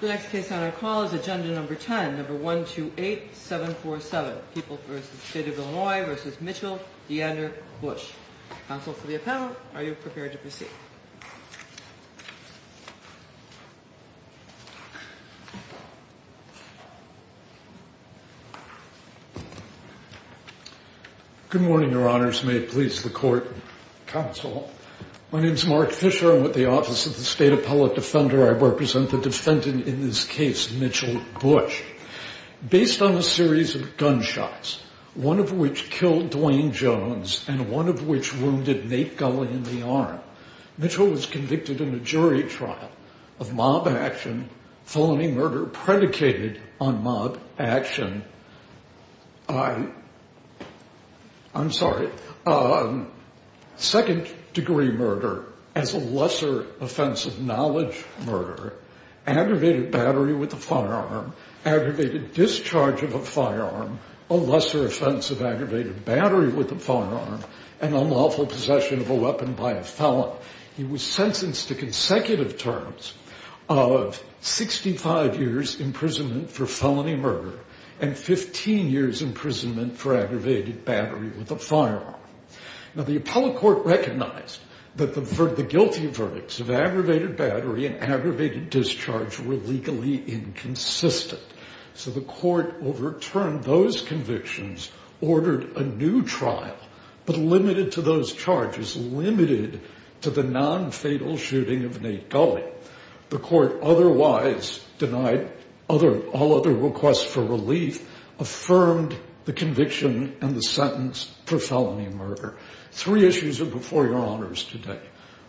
The next case on our call is agenda number 10, 128-747, People v. State of Illinois v. Mitchell v. DeAndre Bush. Counsel for the appellant, are you prepared to proceed? Good morning, your honors. May it please the court and counsel. My name is Mark Fisher. I'm with the Office of the State Appellate Defender. I represent the defendant in this case, Mitchell Bush. Based on a series of gunshots, one of which killed Dwayne Jones and one of which wounded Nate Gulley in the arm, Mitchell was convicted in a jury trial of mob action, felony murder predicated on mob action. Second degree murder as a lesser offense of knowledge murder, aggravated battery with a firearm, aggravated discharge of a firearm, a lesser offense of aggravated battery with a firearm, and unlawful possession of a weapon by a felon. He was sentenced to consecutive terms of 65 years imprisonment for felony murder and 15 years imprisonment for aggravated battery with a firearm. Now, the appellate court recognized that the guilty verdicts of aggravated battery and aggravated discharge were legally inconsistent. So the court overturned those convictions, ordered a new trial, but limited to those charges, limited to the nonfatal shooting of Nate Gulley. The court otherwise denied all other requests for relief, affirmed the conviction and the sentence for felony murder. Three issues are before your honors today.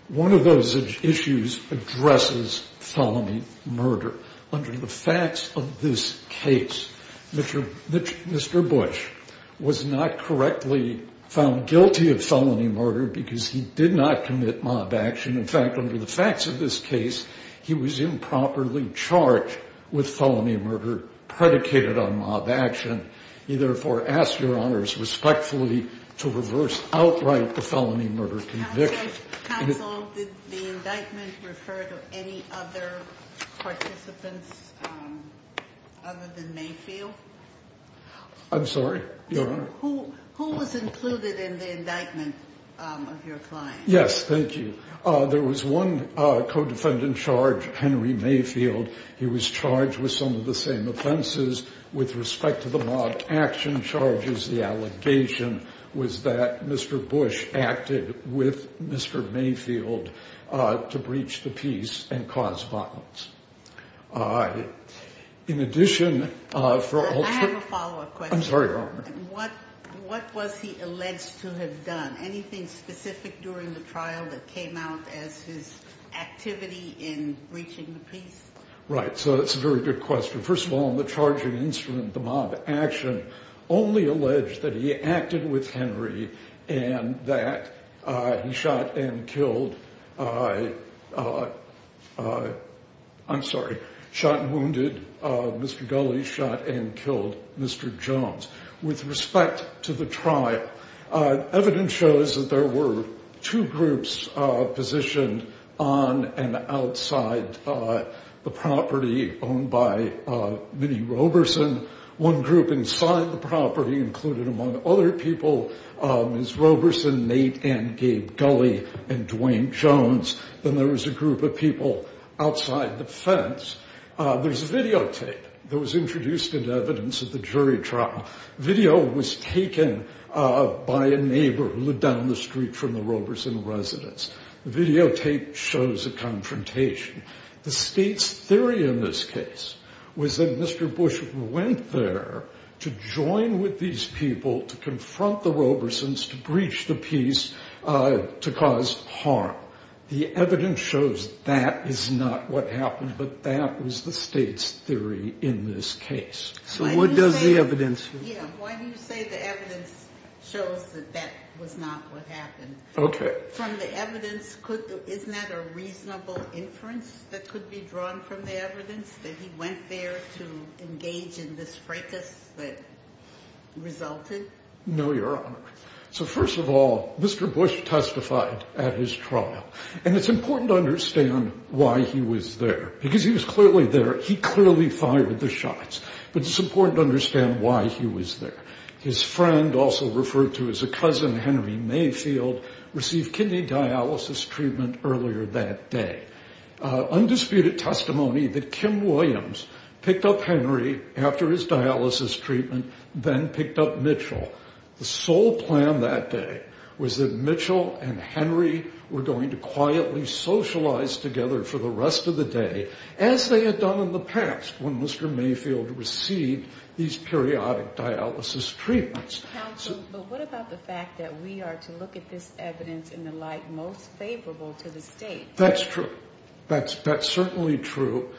One of those issues addresses felony murder. Under the facts of this case, Mr. Bush was not correctly found guilty of felony murder because he did not commit mob action. In fact, under the facts of this case, he was improperly charged with felony murder predicated on mob action. He therefore asks your honors respectfully to reverse outright the felony murder conviction. Counsel, did the indictment refer to any other participants other than Mayfield? I'm sorry, your honor? Who was included in the indictment of your client? Yes, thank you. There was one co-defendant charged, Henry Mayfield. He was charged with some of the same offenses with respect to the mob action charges. The allegation was that Mr. Bush acted with Mr. Mayfield to breach the peace and cause violence. In addition, for all- I have a follow-up question. I'm sorry, your honor. What was he alleged to have done? Anything specific during the trial that came out as his activity in breaching the peace? Right, so that's a very good question. First of all, in the charging instrument, the mob action only alleged that he acted with Henry and that he shot and killed- I'm sorry, shot and wounded Mr. Gulley, shot and killed Mr. Jones. With respect to the trial, evidence shows that there were two groups positioned on and outside the property owned by Minnie Roberson. One group inside the property included, among other people, Ms. Roberson, Nate and Gabe Gulley, and Dwayne Jones. Then there was a group of people outside the fence. There's videotape that was introduced as evidence of the jury trial. Video was taken by a neighbor who lived down the street from the Roberson residence. The videotape shows a confrontation. The state's theory in this case was that Mr. Bush went there to join with these people to confront the Robersons, to breach the peace, to cause harm. The evidence shows that is not what happened, but that was the state's theory in this case. So what does the evidence- Yeah, why do you say the evidence shows that that was not what happened? Okay. From the evidence, isn't that a reasonable inference that could be drawn from the evidence, that he went there to engage in this fracas that resulted? No, Your Honor. So first of all, Mr. Bush testified at his trial. And it's important to understand why he was there, because he was clearly there. He clearly fired the shots. But it's important to understand why he was there. His friend, also referred to as a cousin, Henry Mayfield, received kidney dialysis treatment earlier that day. Undisputed testimony that Kim Williams picked up Henry after his dialysis treatment, then picked up Mitchell. The sole plan that day was that Mitchell and Henry were going to quietly socialize together for the rest of the day, as they had done in the past when Mr. Mayfield received these periodic dialysis treatments. Counsel, but what about the fact that we are to look at this evidence in the light most favorable to the state? That's true. That's certainly true.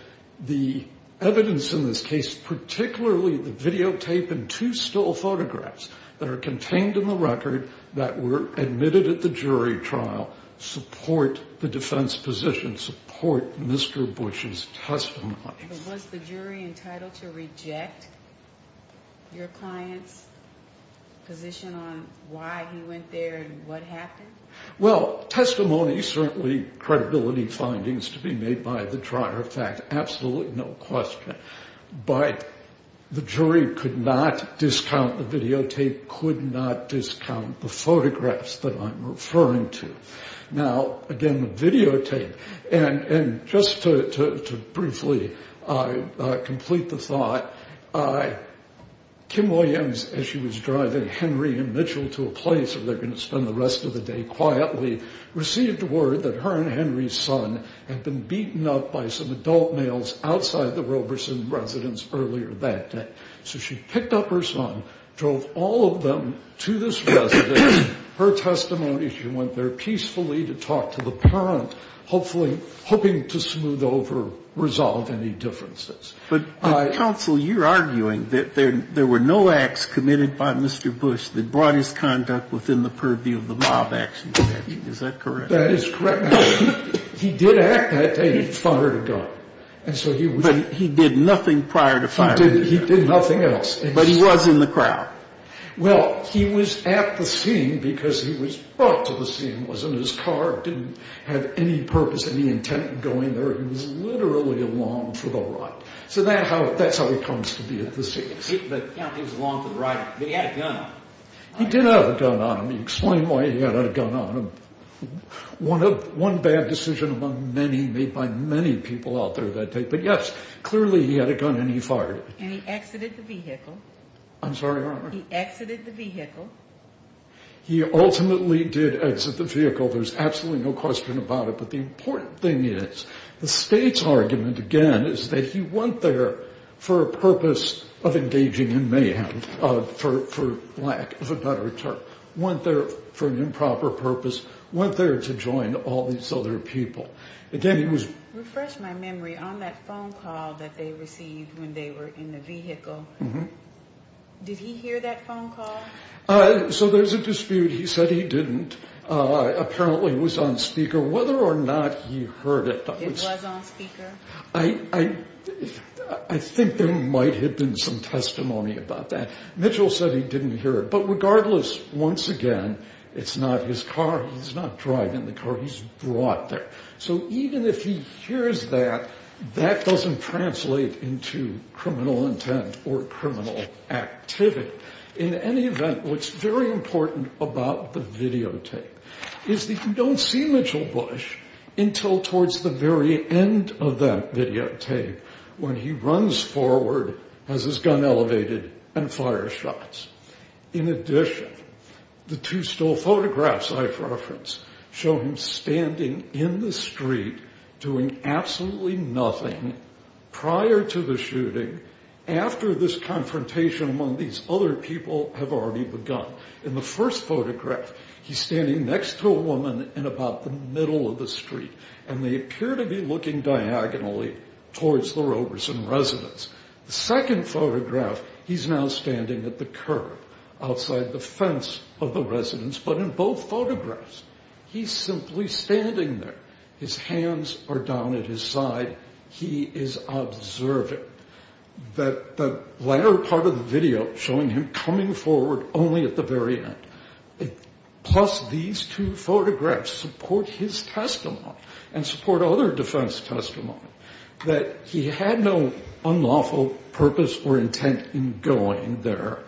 The evidence in this case, particularly the videotape and two still photographs that are contained in the record that were admitted at the jury trial, support the defense position, support Mr. Bush's testimony. Was the jury entitled to reject your client's position on why he went there and what happened? Well, testimony, certainly credibility findings to be made by the trier of fact, absolutely no question. But the jury could not discount the videotape, could not discount the photographs that I'm referring to. Now, again, the videotape and just to briefly complete the thought, Kim Williams, as she was driving Henry and Mitchell to a place where they're going to spend the rest of the day quietly, received word that her and Henry's son had been beaten up by some adult males outside the Roberson residence earlier that day. So she picked up her son, drove all of them to this residence. Her testimony, she went there peacefully to talk to the parent, hopefully hoping to smooth over, resolve any differences. But, Counsel, you're arguing that there were no acts committed by Mr. Bush that brought his conduct within the purview of the mob action statute. Is that correct? That is correct. He did act that day. But he did nothing prior to firing a gun. He did nothing else. But he was in the crowd. Well, he was at the scene because he was brought to the scene, was in his car, didn't have any purpose, any intent in going there. He was literally along for the ride. So that's how he comes to be at the scene. He was along for the ride, but he had a gun on him. He did have a gun on him. You explain why he had a gun on him. One bad decision among many made by many people out there that day. But, yes, clearly he had a gun and he fired it. And he exited the vehicle. I'm sorry, Your Honor. He exited the vehicle. He ultimately did exit the vehicle. There's absolutely no question about it. But the important thing is the State's argument, again, is that he went there for a purpose of engaging in mayhem, for lack of a better term. Went there for an improper purpose. Went there to join all these other people. Refresh my memory. On that phone call that they received when they were in the vehicle, did he hear that phone call? So there's a dispute. He said he didn't. Apparently it was on speaker. Whether or not he heard it. It was on speaker? I think there might have been some testimony about that. Mitchell said he didn't hear it. But regardless, once again, it's not his car. He's not driving the car. He's brought there. So even if he hears that, that doesn't translate into criminal intent or criminal activity. In any event, what's very important about the videotape is that you don't see Mitchell Bush until towards the very end of that videotape when he runs forward, has his gun elevated, and fires shots. In addition, the two still photographs I've referenced show him standing in the street doing absolutely nothing prior to the shooting, after this confrontation among these other people have already begun. In the first photograph, he's standing next to a woman in about the middle of the street. And they appear to be looking diagonally towards the Roberson residence. The second photograph, he's now standing at the curb outside the fence of the residence. But in both photographs, he's simply standing there. His hands are down at his side. He is observing. The latter part of the video showing him coming forward only at the very end. Plus, these two photographs support his testimony and support other defense testimony that he had no unlawful purpose or intent in going there,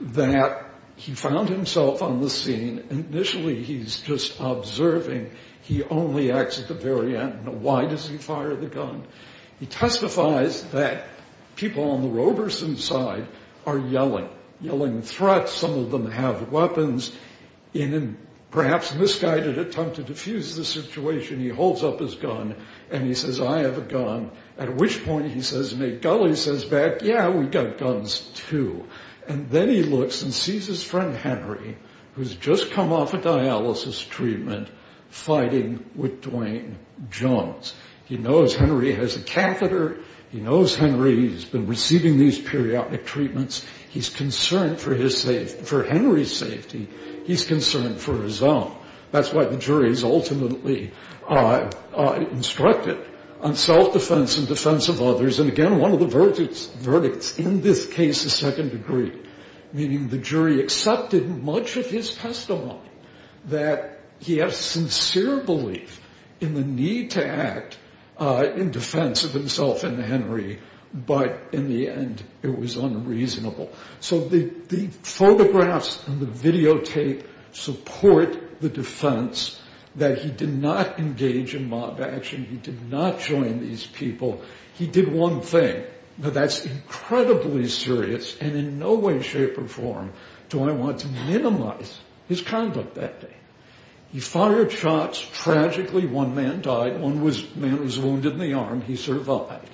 that he found himself on the scene. Initially, he's just observing. He only acts at the very end. Why does he fire the gun? He testifies that people on the Roberson side are yelling, yelling threats. Some of them have weapons. In a perhaps misguided attempt to diffuse the situation, he holds up his gun. And he says, I have a gun. At which point, he says, may Gully says back, yeah, we got guns, too. And then he looks and sees his friend Henry, who's just come off a dialysis treatment, fighting with Duane Jones. He knows Henry has a catheter. He knows Henry has been receiving these periodic treatments. He's concerned for Henry's safety. He's concerned for his own. That's why the jury is ultimately instructed on self-defense and defense of others. And, again, one of the verdicts in this case is second degree, meaning the jury accepted much of his testimony, that he has sincere belief in the need to act in defense of himself and Henry. But, in the end, it was unreasonable. So the photographs and the videotape support the defense that he did not engage in mob action. He did not join these people. He did one thing. Now, that's incredibly serious and in no way, shape, or form do I want to minimize his conduct that day. He fired shots. Tragically, one man died. One man was wounded in the arm. He survived.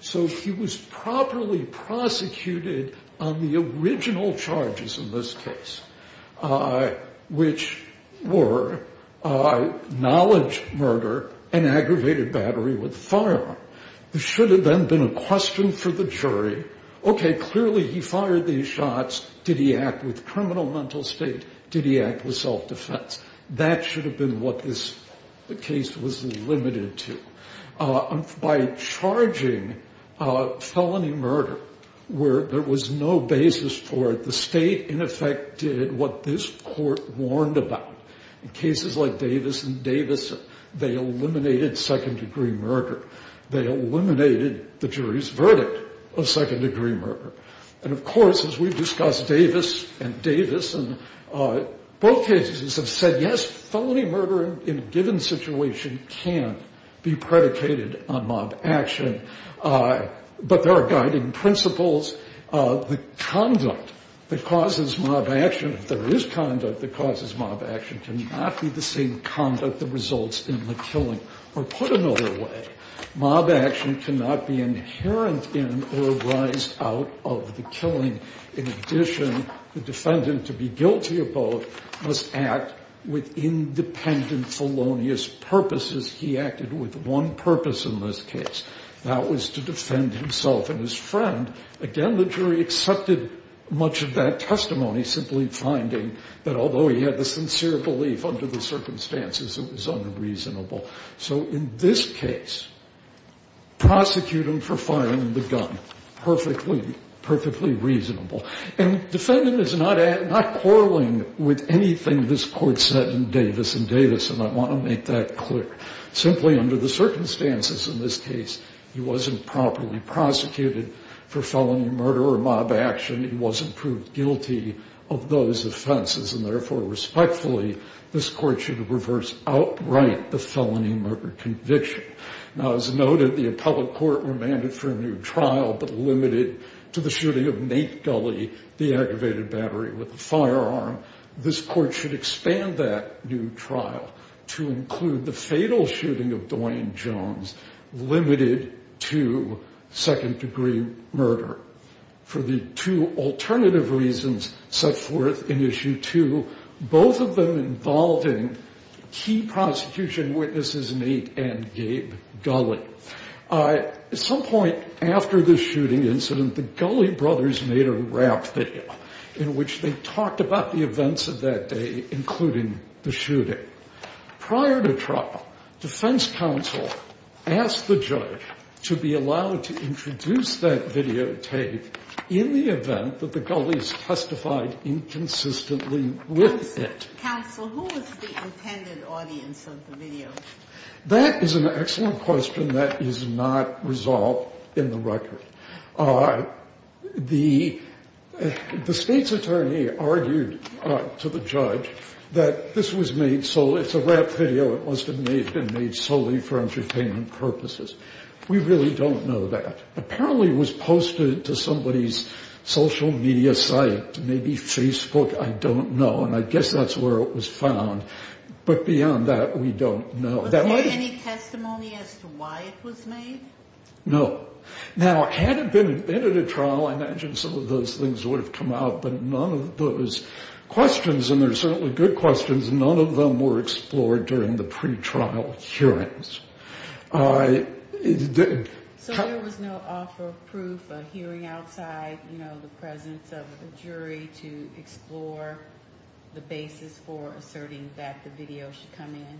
So he was properly prosecuted on the original charges in this case, which were knowledge murder and aggravated battery with a firearm. There should have then been a question for the jury, okay, clearly he fired these shots. Did he act with criminal mental state? Did he act with self-defense? That should have been what this case was limited to. By charging felony murder, where there was no basis for it, the state, in effect, did what this court warned about. In cases like Davis v. Davis, they eliminated second degree murder. They eliminated the jury's verdict of second degree murder. And, of course, as we've discussed, Davis and Davis in both cases have said, yes, felony murder in a given situation can be predicated on mob action. But there are guiding principles. The conduct that causes mob action, if there is conduct that causes mob action, cannot be the same conduct that results in the killing. Or put another way, mob action cannot be inherent in or arise out of the killing. In addition, the defendant, to be guilty of both, must act with independent felonious purposes. He acted with one purpose in this case. That was to defend himself and his friend. Again, the jury accepted much of that testimony, simply finding that although he had the sincere belief under the circumstances, it was unreasonable. So in this case, prosecute him for firing the gun. Perfectly, perfectly reasonable. And defendant is not quarreling with anything this court said in Davis v. Davis, and I want to make that clear. Simply under the circumstances in this case, he wasn't properly prosecuted for felony murder or mob action. He wasn't proved guilty of those offenses. And, therefore, respectfully, this court should reverse outright the felony murder conviction. Now, as noted, the appellate court remanded for a new trial, but limited to the shooting of Nate Gully, the aggravated battery with a firearm. This court should expand that new trial to include the fatal shooting of Dwayne Jones, limited to second-degree murder. For the two alternative reasons set forth in Issue 2, both of them involving key prosecution witnesses, Nate and Gabe Gully. At some point after the shooting incident, the Gully brothers made a rap video in which they talked about the events of that day, including the shooting. Prior to trial, defense counsel asked the judge to be allowed to introduce that videotape in the event that the Gullies testified inconsistently with it. Counsel, who was the intended audience of the video? That is an excellent question that is not resolved in the record. The state's attorney argued to the judge that this was made solely, it's a rap video, it must have been made solely for entertainment purposes. We really don't know that. Apparently it was posted to somebody's social media site, maybe Facebook, I don't know, and I guess that's where it was found. But beyond that, we don't know. Was there any testimony as to why it was made? No. Now, had it been at a trial, I imagine some of those things would have come out, but none of those questions, and there are certainly good questions, none of them were explored during the pretrial hearings. So there was no offer of proof, a hearing outside, you know, the presence of a jury to explore the basis for asserting that the video should come in?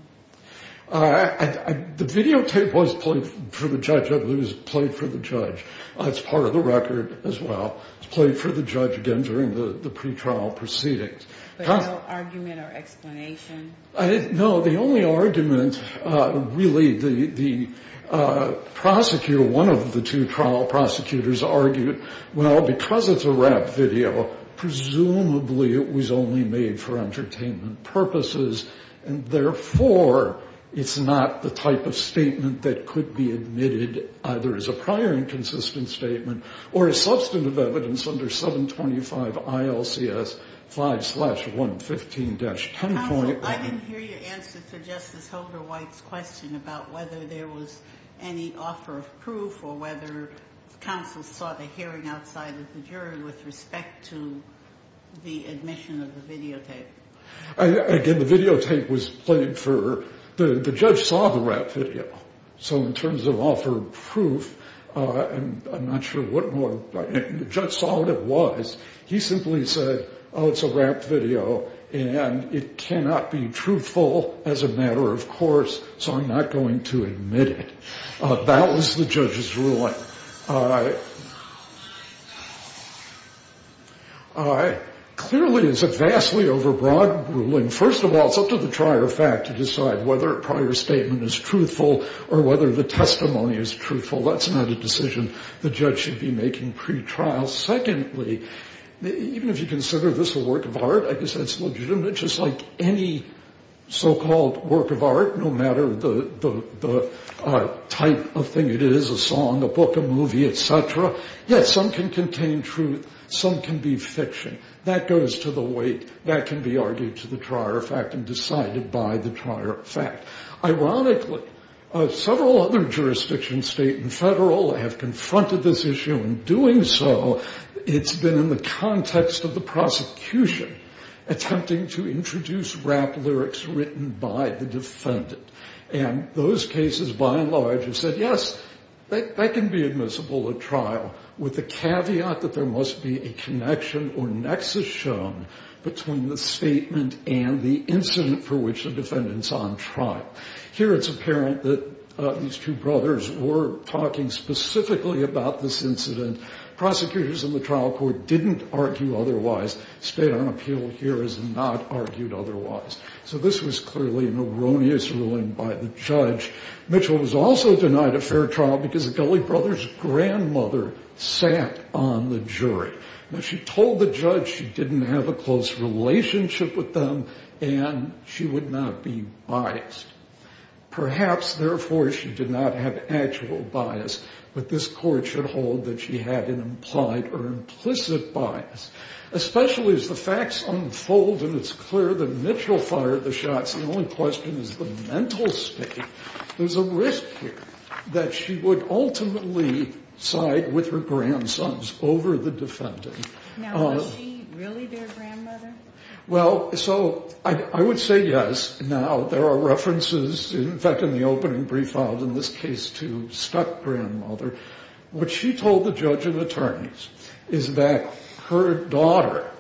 The videotape was played for the judge, I believe it was played for the judge. It's part of the record as well. It was played for the judge again during the pretrial proceedings. But no argument or explanation? No, the only argument, really, the prosecutor, one of the two trial prosecutors argued, well, because it's a rap video, presumably it was only made for entertainment purposes, and therefore it's not the type of statement that could be admitted either as a prior inconsistent statement or as substantive evidence under 725 ILCS 5-115-10. Counsel, I didn't hear your answer to Justice Holder White's question about whether there was any offer of proof or whether counsel saw the hearing outside of the jury with respect to the admission of the videotape. Again, the videotape was played for, the judge saw the rap video. So in terms of offer of proof, I'm not sure what more, the judge saw what it was. He simply said, oh, it's a rap video, and it cannot be truthful as a matter of course, so I'm not going to admit it. That was the judge's ruling. All right. Clearly, it's a vastly overbroad ruling. First of all, it's up to the trier of fact to decide whether a prior statement is truthful or whether the testimony is truthful. That's not a decision the judge should be making pretrial. Secondly, even if you consider this a work of art, I guess that's legitimate, just like any so-called work of art, no matter the type of thing it is, a song, a book, a movie, et cetera, yes, some can contain truth, some can be fiction. That goes to the weight, that can be argued to the trier of fact and decided by the trier of fact. Ironically, several other jurisdictions, state and federal, have confronted this issue in doing so. It's been in the context of the prosecution attempting to introduce rap lyrics written by the defendant. And those cases by and large have said, yes, that can be admissible at trial, with the caveat that there must be a connection or nexus shown between the statement and the incident for which the defendant's on trial. Here it's apparent that these two brothers were talking specifically about this incident. Prosecutors in the trial court didn't argue otherwise. State-owned appeal here has not argued otherwise. So this was clearly an erroneous ruling by the judge. Mitchell was also denied a fair trial because the Gulley brothers' grandmother sat on the jury. Now, she told the judge she didn't have a close relationship with them and she would not be biased. Perhaps, therefore, she did not have actual bias, but this court should hold that she had an implied or implicit bias. Especially as the facts unfold and it's clear that Mitchell fired the shots, the only question is the mental state. There's a risk here that she would ultimately side with her grandsons over the defendant. Now, was she really their grandmother? Well, so I would say yes. Now, there are references, in fact, in the opening brief filed in this case to Scott's grandmother. What she told the judge and attorneys is that her daughter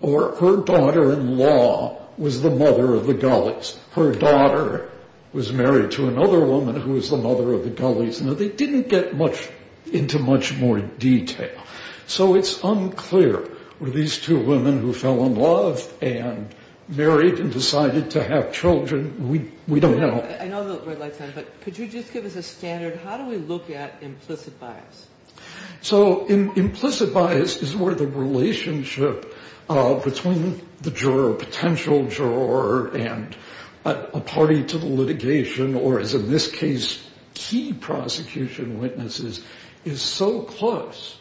or her daughter-in-law was the mother of the Gulleys. Her daughter was married to another woman who was the mother of the Gulleys. Now, they didn't get much into much more detail. So it's unclear. Were these two women who fell in love and married and decided to have children? We don't know. I know the red light's on, but could you just give us a standard? How do we look at implicit bias? So implicit bias is where the relationship between the juror, potential juror, and a party to the litigation, or as in this case, key prosecution witnesses, is so close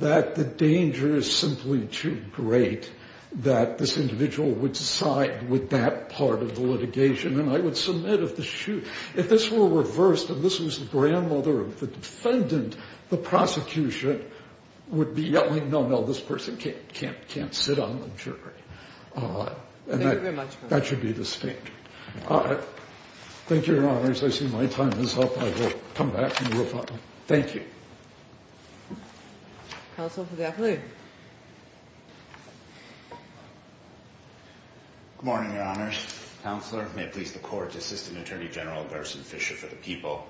that the danger is simply too great that this individual would side with that part of the litigation. And I would submit if this were reversed and this was the grandmother of the defendant, the prosecution would be yelling, no, no, this person can't sit on the jury. That should be the standard. Thank you, Your Honors. I see my time is up. I will come back and we'll find out. Thank you. Counsel for the afternoon. Good morning, Your Honors. Counselor, may it please the Court to assist in Attorney General Gerson Fisher for the people.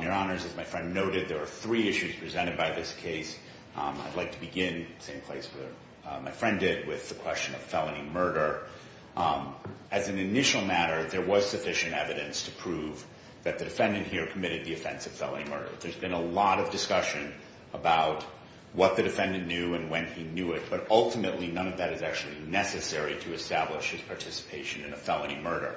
Your Honors, as my friend noted, there are three issues presented by this case. I'd like to begin, same place my friend did, with the question of felony murder. As an initial matter, there was sufficient evidence to prove that the defendant here committed the offense of felony murder. There's been a lot of discussion about what the defendant knew and when he knew it, but ultimately none of that is actually necessary to establish his participation in a felony murder.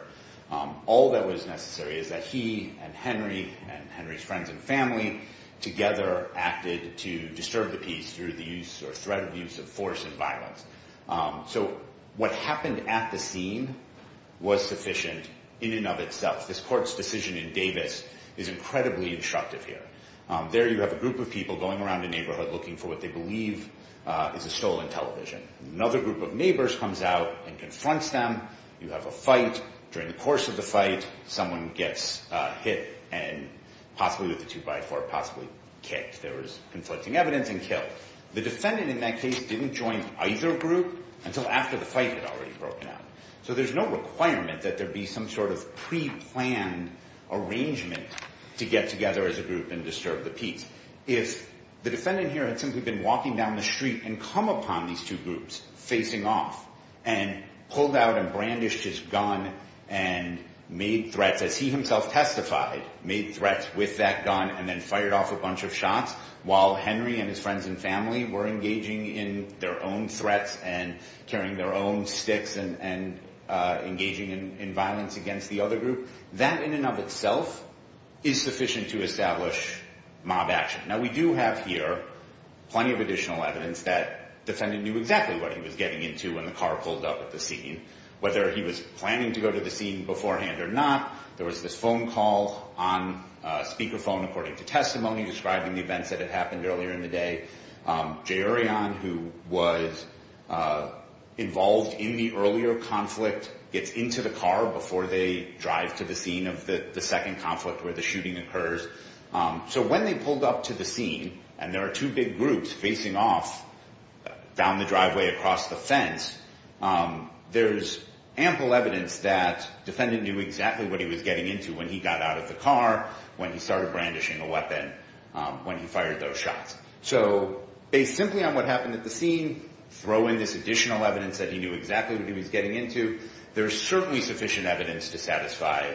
All that was necessary is that he and Henry and Henry's friends and family together acted to disturb the peace through the use or threat of the use of force and violence. So what happened at the scene was sufficient in and of itself. This Court's decision in Davis is incredibly instructive here. There you have a group of people going around a neighborhood looking for what they believe is a stolen television. Another group of neighbors comes out and confronts them. You have a fight. During the course of the fight, someone gets hit and possibly with a two-by-four, possibly kicked. There was conflicting evidence and killed. The defendant in that case didn't join either group until after the fight had already broken out. So there's no requirement that there be some sort of pre-planned arrangement to get together as a group and disturb the peace. If the defendant here had simply been walking down the street and come upon these two groups facing off and pulled out and brandished his gun and made threats as he himself testified, made threats with that gun and then fired off a bunch of shots while Henry and his friends and family were engaging in their own threats and carrying their own sticks and engaging in violence against the other group, that in and of itself is sufficient to establish mob action. Now, we do have here plenty of additional evidence that the defendant knew exactly what he was getting into when the car pulled up at the scene. Whether he was planning to go to the scene beforehand or not, there was this phone call on speakerphone according to testimony describing the events that had happened earlier in the day. Jay Orion, who was involved in the earlier conflict, gets into the car before they drive to the scene of the second conflict where the shooting occurs. So when they pulled up to the scene and there are two big groups facing off down the driveway across the fence, there's ample evidence that the defendant knew exactly what he was getting into when he got out of the car, when he started brandishing a weapon, when he fired those shots. So based simply on what happened at the scene, throw in this additional evidence that he knew exactly what he was getting into, there's certainly sufficient evidence to satisfy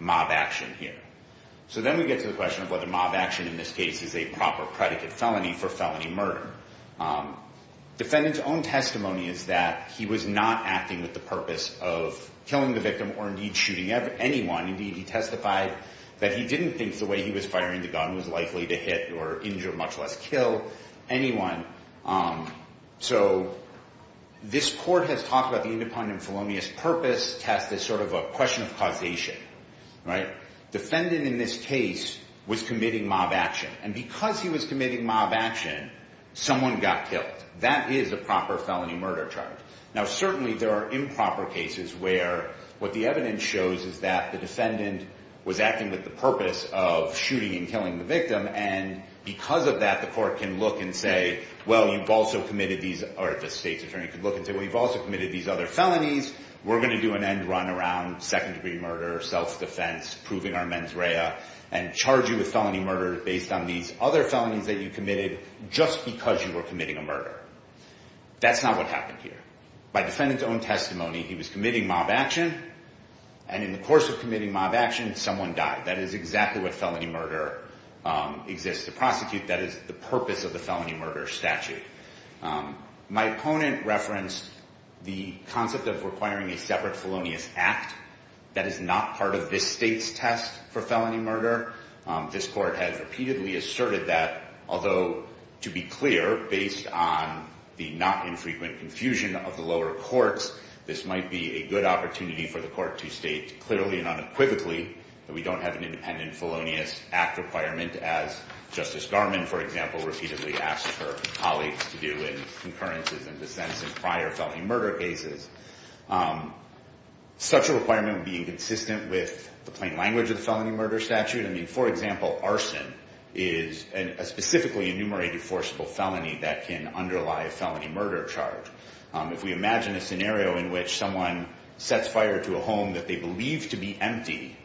mob action here. So then we get to the question of whether mob action in this case is a proper predicate felony for felony murder. Defendant's own testimony is that he was not acting with the purpose of killing the victim or indeed shooting anyone. Indeed, he testified that he didn't think the way he was firing the gun was likely to hit or injure, much less kill, anyone. So this court has talked about the independent felonious purpose test as sort of a question of causation. Defendant in this case was committing mob action. And because he was committing mob action, someone got killed. That is a proper felony murder charge. Now, certainly there are improper cases where what the evidence shows is that the defendant was acting with the purpose of shooting and killing the victim. And because of that, the court can look and say, well, you've also committed these, or the state's attorney could look and say, well, you've also committed these other felonies. We're going to do an end run around second-degree murder, self-defense, proving our mens rea, and charge you with felony murder based on these other felonies that you committed just because you were committing a murder. That's not what happened here. By defendant's own testimony, he was committing mob action. And in the course of committing mob action, someone died. That is exactly what felony murder exists to prosecute. That is the purpose of the felony murder statute. My opponent referenced the concept of requiring a separate felonious act. That is not part of this state's test for felony murder. This court has repeatedly asserted that, although, to be clear, based on the not infrequent confusion of the lower courts, this might be a good opportunity for the court to state clearly and unequivocally that we don't have an independent felonious act requirement, as Justice Garmon, for example, repeatedly asked her colleagues to do in concurrences and dissents in prior felony murder cases. Such a requirement would be inconsistent with the plain language of the felony murder statute. I mean, for example, arson is a specifically enumerated forcible felony that can underlie a felony murder charge. If we imagine a scenario in which someone sets fire to a home that they believe to be empty,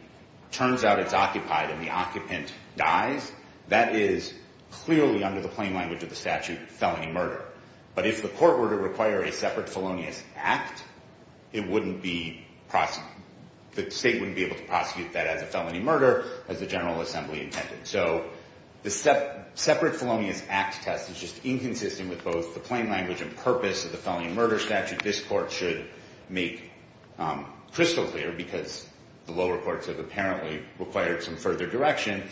turns out it's occupied and the occupant dies, that is clearly under the plain language of the statute felony murder. But if the court were to require a separate felonious act, the state wouldn't be able to prosecute that as a felony murder, as the General Assembly intended. So the separate felonious act test is just inconsistent with both the plain language and purpose of the felony murder statute. This court should make crystal clear, because the lower courts have apparently required some further direction,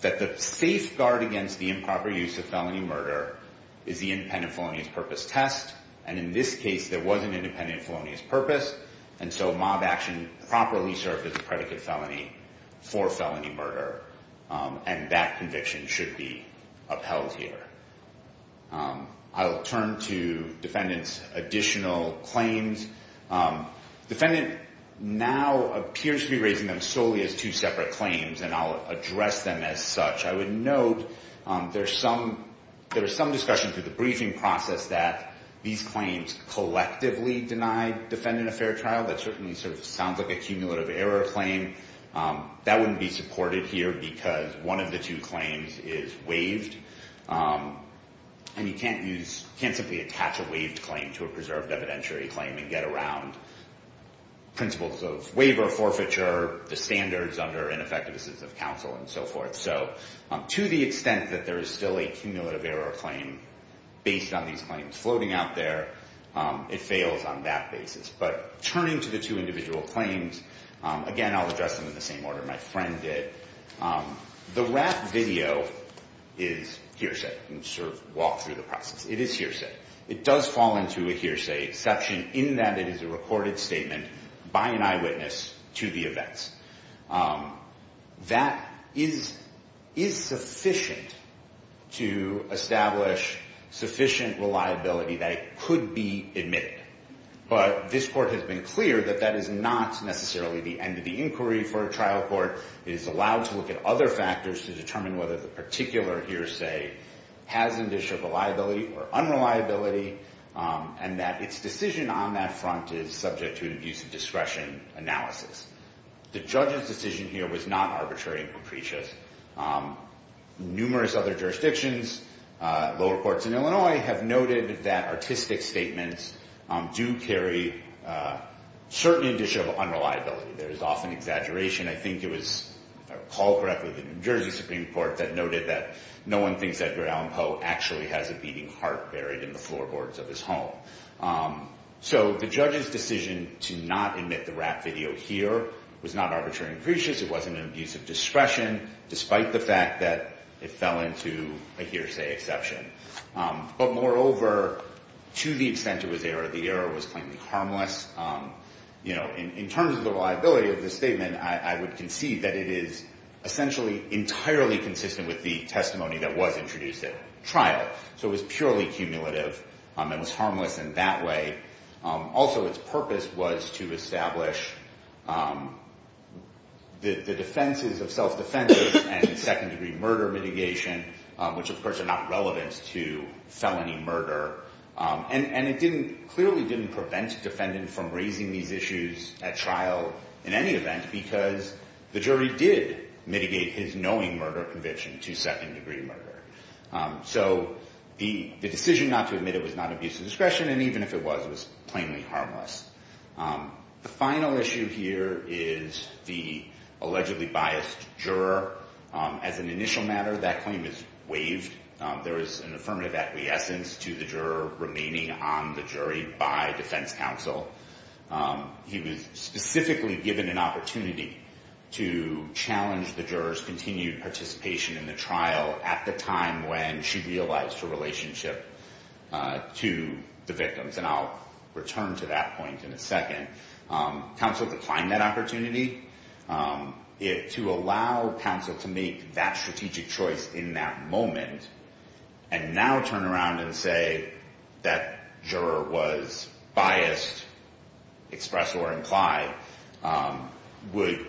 that the safeguard against the improper use of felony murder is the independent felonious purpose test. And in this case, there was an independent felonious purpose, and so mob action properly served as a predicate felony for felony murder. And that conviction should be upheld here. I'll turn to defendants' additional claims. Defendant now appears to be raising them solely as two separate claims, and I'll address them as such. I would note there's some discussion through the briefing process that these claims collectively deny defendant a fair trial. That certainly sort of sounds like a cumulative error claim. That wouldn't be supported here, because one of the two claims is waived. And you can't simply attach a waived claim to a preserved evidentiary claim and get around principles of waiver forfeiture, the standards under ineffectiveness of counsel, and so forth. So to the extent that there is still a cumulative error claim based on these claims floating out there, it fails on that basis. But turning to the two individual claims, again, I'll address them in the same order my friend did. The rap video is hearsay. You can sort of walk through the process. It is hearsay. It does fall into a hearsay exception in that it is a recorded statement by an eyewitness to the events. That is sufficient to establish sufficient reliability that it could be admitted. But this court has been clear that that is not necessarily the end of the inquiry for a trial court. It is allowed to look at other factors to determine whether the particular hearsay has an issue of reliability or unreliability, and that its decision on that front is subject to an abuse of discretion analysis. The judge's decision here was not arbitrary and capricious. Numerous other jurisdictions, lower courts in Illinois, have noted that artistic statements do carry certain issue of unreliability. There is often exaggeration. I think it was called correctly the New Jersey Supreme Court that noted that no one thinks Edgar Allen Poe actually has a beating heart buried in the floorboards of his home. So the judge's decision to not admit the rap video here was not arbitrary and capricious. It wasn't an abuse of discretion, despite the fact that it fell into a hearsay exception. But moreover, to the extent it was error, the error was plainly harmless. In terms of the reliability of the statement, I would concede that it is essentially entirely consistent with the testimony that was introduced at trial. So it was purely cumulative and was harmless in that way. Also, its purpose was to establish the defenses of self-defense and second-degree murder mitigation, which, of course, are not relevant to felony murder. And it clearly didn't prevent a defendant from raising these issues at trial in any event, because the jury did mitigate his knowing murder conviction to second-degree murder. So the decision not to admit it was not abuse of discretion, and even if it was, it was plainly harmless. The final issue here is the allegedly biased juror. There is an affirmative acquiescence to the juror remaining on the jury by defense counsel. He was specifically given an opportunity to challenge the juror's continued participation in the trial at the time when she realized her relationship to the victims. And I'll return to that point in a second. Counsel declined that opportunity. To allow counsel to make that strategic choice in that moment and now turn around and say that juror was biased, express or imply, would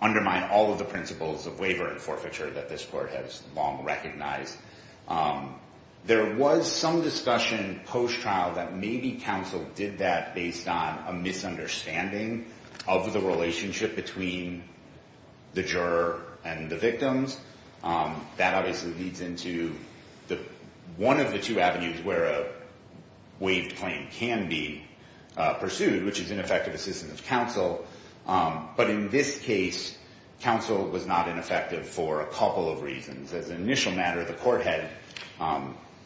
undermine all of the principles of waiver and forfeiture that this court has long recognized. There was some discussion post-trial that maybe counsel did that based on a misunderstanding of the relationship between the juror and the victims. That obviously leads into one of the two avenues where a waived claim can be pursued, which is ineffective assistance of counsel. But in this case, counsel was not ineffective for a couple of reasons. As an initial matter, the court had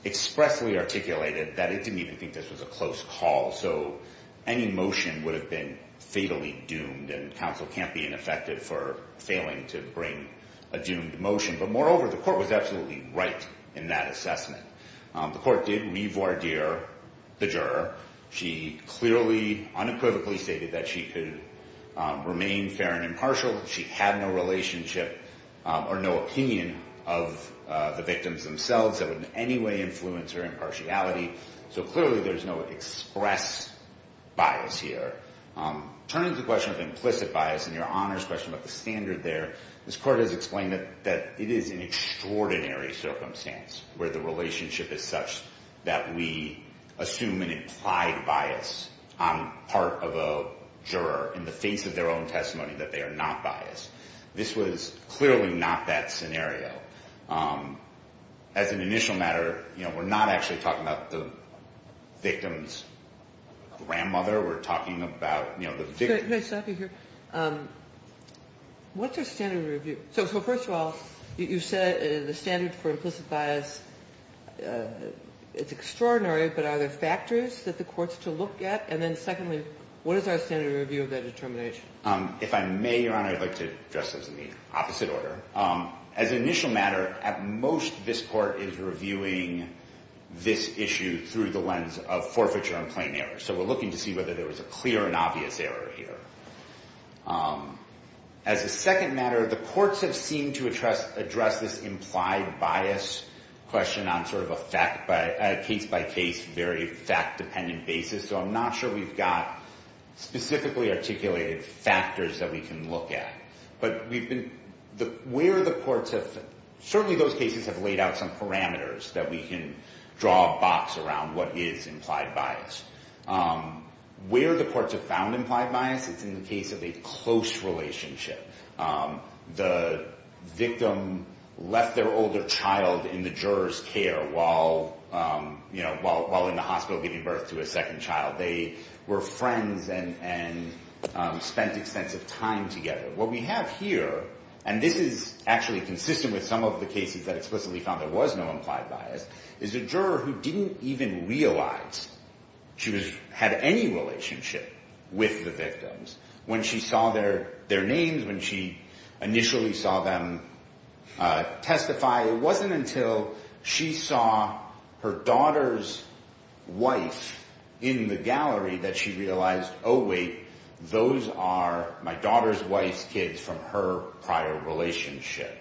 expressly articulated that it didn't even think this was a close call. So any motion would have been fatally doomed, and counsel can't be ineffective for failing to bring a doomed motion. But moreover, the court was absolutely right in that assessment. The court did re-voir dire the juror. She clearly, unequivocally stated that she could remain fair and impartial. She had no relationship or no opinion of the victims themselves that would in any way influence her impartiality. So clearly there's no express bias here. Turning to the question of implicit bias and Your Honor's question about the standard there, this court has explained that it is an extraordinary circumstance where the relationship is such that we assume an implied bias on part of a juror in the face of their own testimony, that they are not biased. This was clearly not that scenario. As an initial matter, you know, we're not actually talking about the victim's grandmother. We're talking about, you know, the victim. Ginsburg. Could I stop you here? What's your standard review? So first of all, you said the standard for implicit bias, it's extraordinary, but are there factors that the court's to look at? And then secondly, what is our standard review of that determination? If I may, Your Honor, I'd like to address those in the opposite order. As an initial matter, at most this court is reviewing this issue through the lens of forfeiture and plain error. So we're looking to see whether there was a clear and obvious error here. As a second matter, the courts have seemed to address this implied bias question on sort of a case-by-case, very fact-dependent basis. So I'm not sure we've got specifically articulated factors that we can look at. But certainly those cases have laid out some parameters that we can draw a box around what is implied bias. Where the courts have found implied bias, it's in the case of a close relationship. The victim left their older child in the juror's care while in the hospital giving birth to a second child. They were friends and spent extensive time together. What we have here, and this is actually consistent with some of the cases that explicitly found there was no implied bias, is a juror who didn't even realize she had any relationship with the victims. When she saw their names, when she initially saw them testify, it wasn't until she saw her daughter's wife in the gallery that she realized, oh wait, those are my daughter's wife's kids from her prior relationship.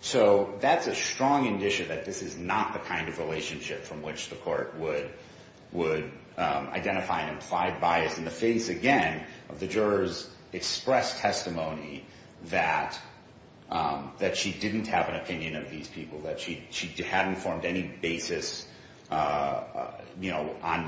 So that's a strong indicia that this is not the kind of relationship from which the court would identify an implied bias. In the face, again, of the juror's expressed testimony that she didn't have an opinion of these people, that she hadn't formed any basis on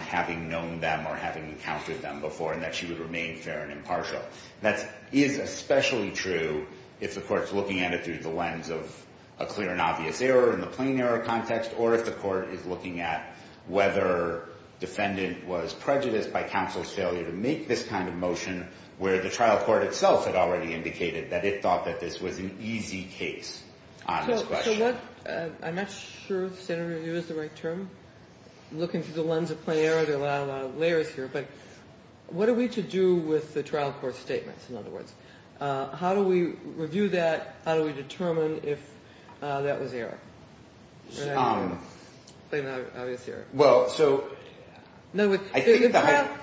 having known them or having encountered them before, and that she would remain fair and impartial. That is especially true if the court's looking at it through the lens of a clear and obvious error in the plain error context, or if the court is looking at whether defendant was prejudiced by counsel's failure to make this kind of motion where the trial court itself had already indicated that it thought that this was an easy case on this question. I'm not sure if standard review is the right term. Looking through the lens of plain error, there are a lot of layers here. But what are we to do with the trial court's statements, in other words? How do we review that? How do we determine if that was error, plain and obvious error? The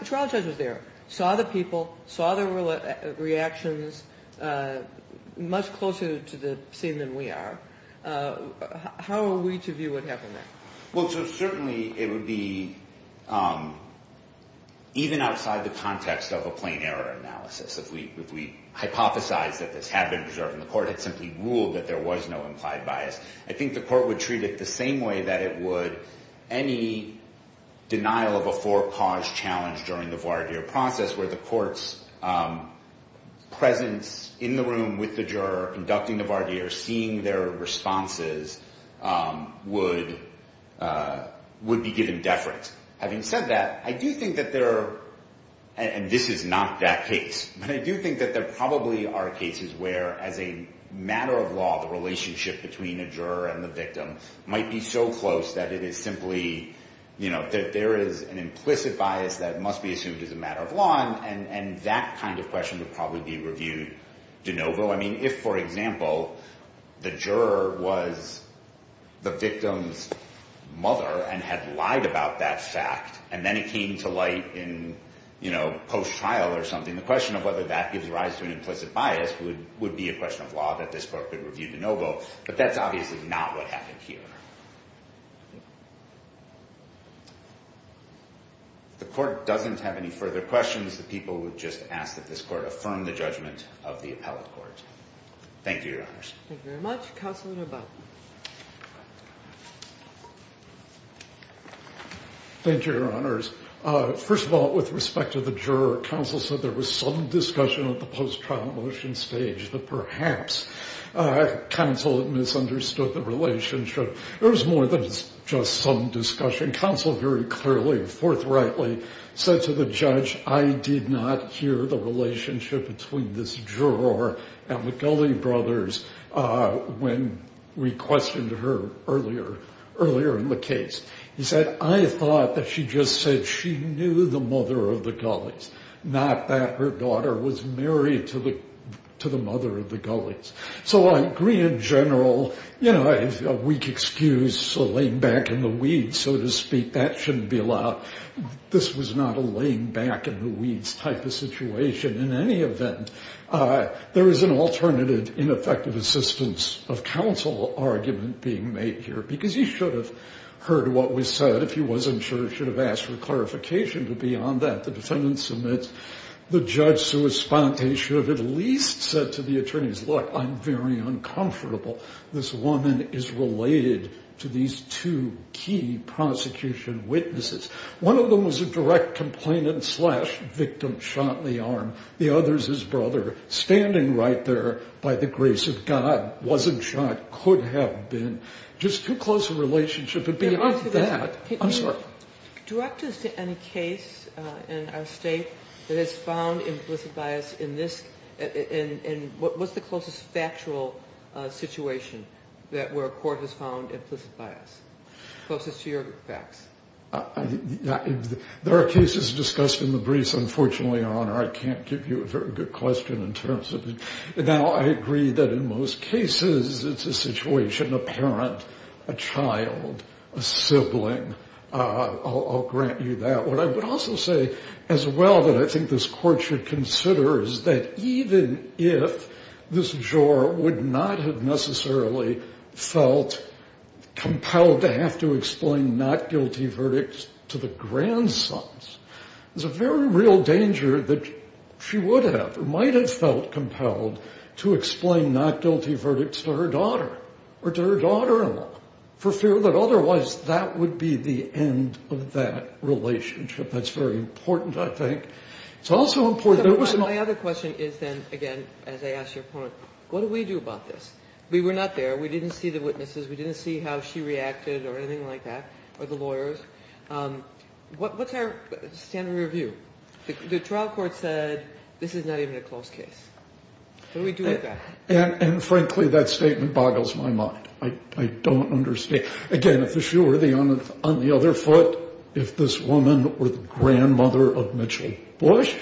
trial judge was there, saw the people, saw their reactions much closer to the scene than we are. How are we to view what happened there? Well, so certainly it would be even outside the context of a plain error analysis. If we hypothesized that this had been preserved and the court had simply ruled that there was no implied bias, I think the court would treat it the same way that it would any denial of a forecaused challenge during the voir dire process where the court's presence in the room with the juror conducting the voir dire, seeing their responses, would be given deference. Having said that, I do think that there are—and this is not that case— but I do think that there probably are cases where, as a matter of law, the relationship between a juror and the victim might be so close that it is simply— that there is an implicit bias that must be assumed as a matter of law, I mean, if, for example, the juror was the victim's mother and had lied about that fact and then it came to light in post-trial or something, the question of whether that gives rise to an implicit bias would be a question of law, that this court would review de novo, but that's obviously not what happened here. If the court doesn't have any further questions, the people would just ask that this court affirm the judgment of the appellate court. Thank you, Your Honors. Thank you very much. Counselor Neubau. Thank you, Your Honors. First of all, with respect to the juror, counsel said there was some discussion at the post-trial motion stage that perhaps counsel misunderstood the relationship. There was more than just some discussion. Counsel very clearly and forthrightly said to the judge, I did not hear the relationship between this juror and the Gulley brothers when we questioned her earlier in the case. He said, I thought that she just said she knew the mother of the Gulleys, not that her daughter was married to the mother of the Gulleys. So I agree in general, you know, a weak excuse, a laying back in the weeds, so to speak, that shouldn't be allowed. This was not a laying back in the weeds type of situation. In any event, there is an alternative ineffective assistance of counsel argument being made here, because he should have heard what was said. If he wasn't sure, he should have asked for clarification. But beyond that, the defendant submits. The judge should have at least said to the attorneys, look, I'm very uncomfortable. This woman is related to these two key prosecution witnesses. One of them was a direct complainant slash victim shot in the arm. The other is his brother standing right there by the grace of God, wasn't shot, could have been. Just too close a relationship. Beyond that, I'm sorry. Direct us to any case in our state that has found implicit bias in this, in what was the closest factual situation that where a court has found implicit bias? Closest to your facts. There are cases discussed in the briefs, unfortunately, Your Honor. I can't give you a very good question in terms of it. Now, I agree that in most cases it's a situation, a parent, a child, a sibling. I'll grant you that. What I would also say as well that I think this court should consider is that even if this juror would not have necessarily felt compelled to have to explain not guilty verdicts to the grandsons, there's a very real danger that she would have or might have felt compelled to explain not guilty verdicts to her daughter or to her daughter-in-law for fear that otherwise that would be the end of that relationship. That's very important, I think. It's also important. My other question is then, again, as I asked your point, what do we do about this? We were not there. We didn't see the witnesses. We didn't see how she reacted or anything like that or the lawyers. What's our standard review? The trial court said this is not even a close case. What do we do with that? And, frankly, that statement boggles my mind. I don't understand. Again, if the jury were on the other foot, if this woman were the grandmother of Mitchell Bush,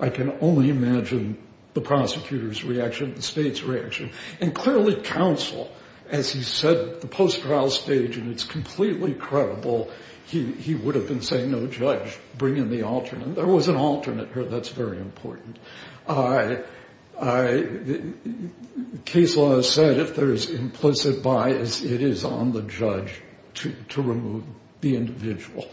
I can only imagine the prosecutor's reaction, the state's reaction. And, clearly, counsel, as he said, the post-trial stage, and it's completely credible, he would have been saying, no, judge, bring in the alternate. There was an alternate here. That's very important. Case law has said if there is implicit bias, it is on the judge to remove the individual.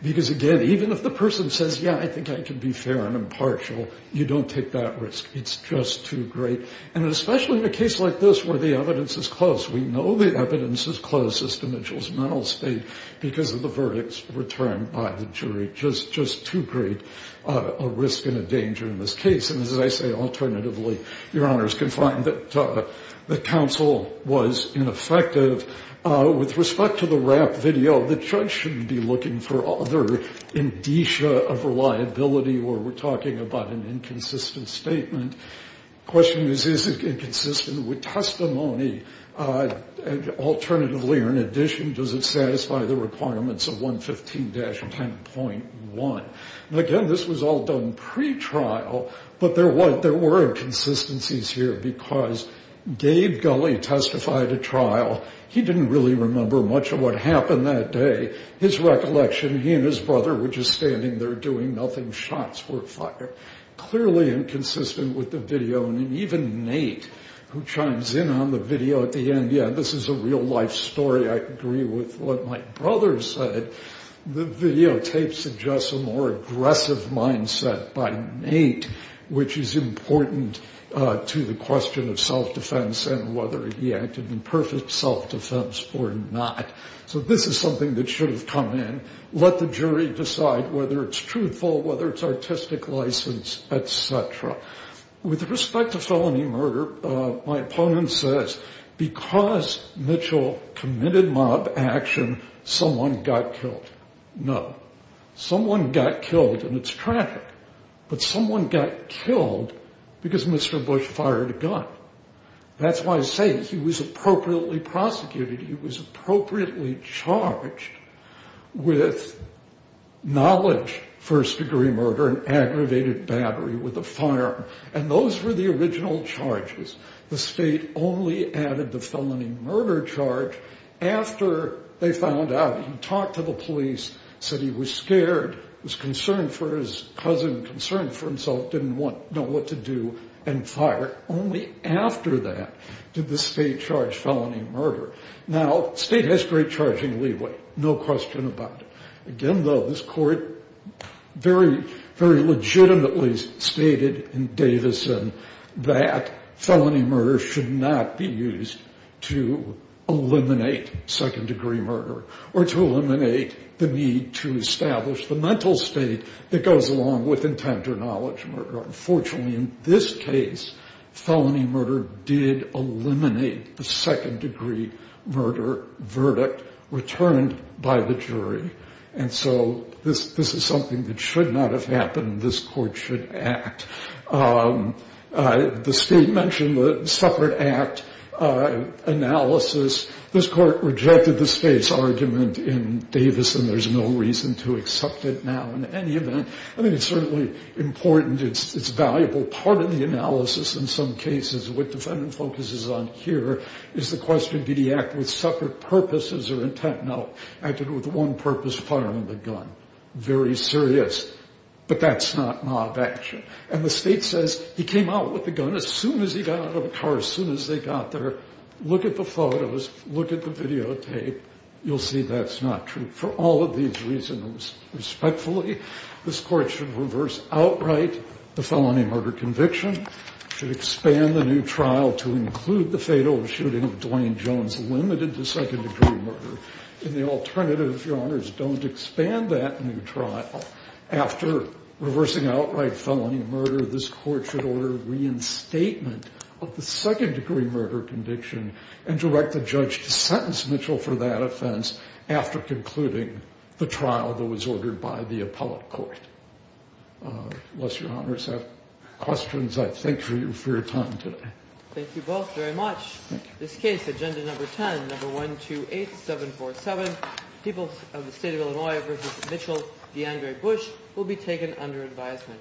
Because, again, even if the person says, yeah, I think I can be fair and impartial, you don't take that risk. It's just too great. And especially in a case like this where the evidence is close. We know the evidence is close as to Mitchell's mental state because of the verdicts returned by the jury. Just too great a risk and a danger in this case. And, as I say, alternatively, your honors can find that counsel was ineffective. With respect to the rap video, the judge shouldn't be looking for other indicia of reliability where we're talking about an inconsistent statement. The question is, is it inconsistent with testimony? Alternatively or in addition, does it satisfy the requirements of 115-10.1? Again, this was all done pretrial, but there were inconsistencies here because Gabe Gulley testified at trial. He didn't really remember much of what happened that day. His recollection, he and his brother were just standing there doing nothing. Shots were fired. Clearly inconsistent with the video. And even Nate, who chimes in on the video at the end, yeah, this is a real-life story. I agree with what my brother said. The videotape suggests a more aggressive mindset by Nate, which is important to the question of self-defense and whether he acted in perfect self-defense or not. So this is something that should have come in. Let the jury decide whether it's truthful, whether it's artistic license, et cetera. With respect to felony murder, my opponent says because Mitchell committed mob action, someone got killed. No. Someone got killed in its traffic, but someone got killed because Mr. Bush fired a gun. That's why I say he was appropriately prosecuted. He was appropriately charged with knowledge first-degree murder and aggravated battery with a firearm. And those were the original charges. The state only added the felony murder charge after they found out. He talked to the police, said he was scared, was concerned for his cousin, concerned for himself, didn't know what to do, and fired. Only after that did the state charge felony murder. Now, state has great charging leeway, no question about it. Again, though, this court very, very legitimately stated in Davison that felony murder should not be used to eliminate second-degree murder or to eliminate the need to establish the mental state that goes along with intent or knowledge murder. Unfortunately, in this case, felony murder did eliminate the second-degree murder verdict returned by the jury. And so this is something that should not have happened. This court should act. The state mentioned the separate act analysis. This court rejected the state's argument in Davison. There's no reason to accept it now in any event. I think it's certainly important. It's a valuable part of the analysis in some cases. What defendant focuses on here is the question, did he act with separate purposes or intent? No, acted with one purpose, firing the gun. Very serious. But that's not mob action. And the state says he came out with the gun as soon as he got out of the car, as soon as they got there. Look at the photos. Look at the videotape. You'll see that's not true for all of these reasons. Respectfully, this court should reverse outright the felony murder conviction, should expand the new trial to include the fatal shooting of Dwayne Jones, limited to second-degree murder. And the alternative, Your Honors, don't expand that new trial. After reversing outright felony murder, this court should order reinstatement of the second-degree murder conviction and direct the judge to sentence Mitchell for that offense after concluding the trial that was ordered by the appellate court. Unless Your Honors have questions, I thank you for your time today. Thank you both very much. This case, Agenda Number 10, Number 128747, People of the State of Illinois v. Mitchell, DeAndre Bush, will be taken under advisement.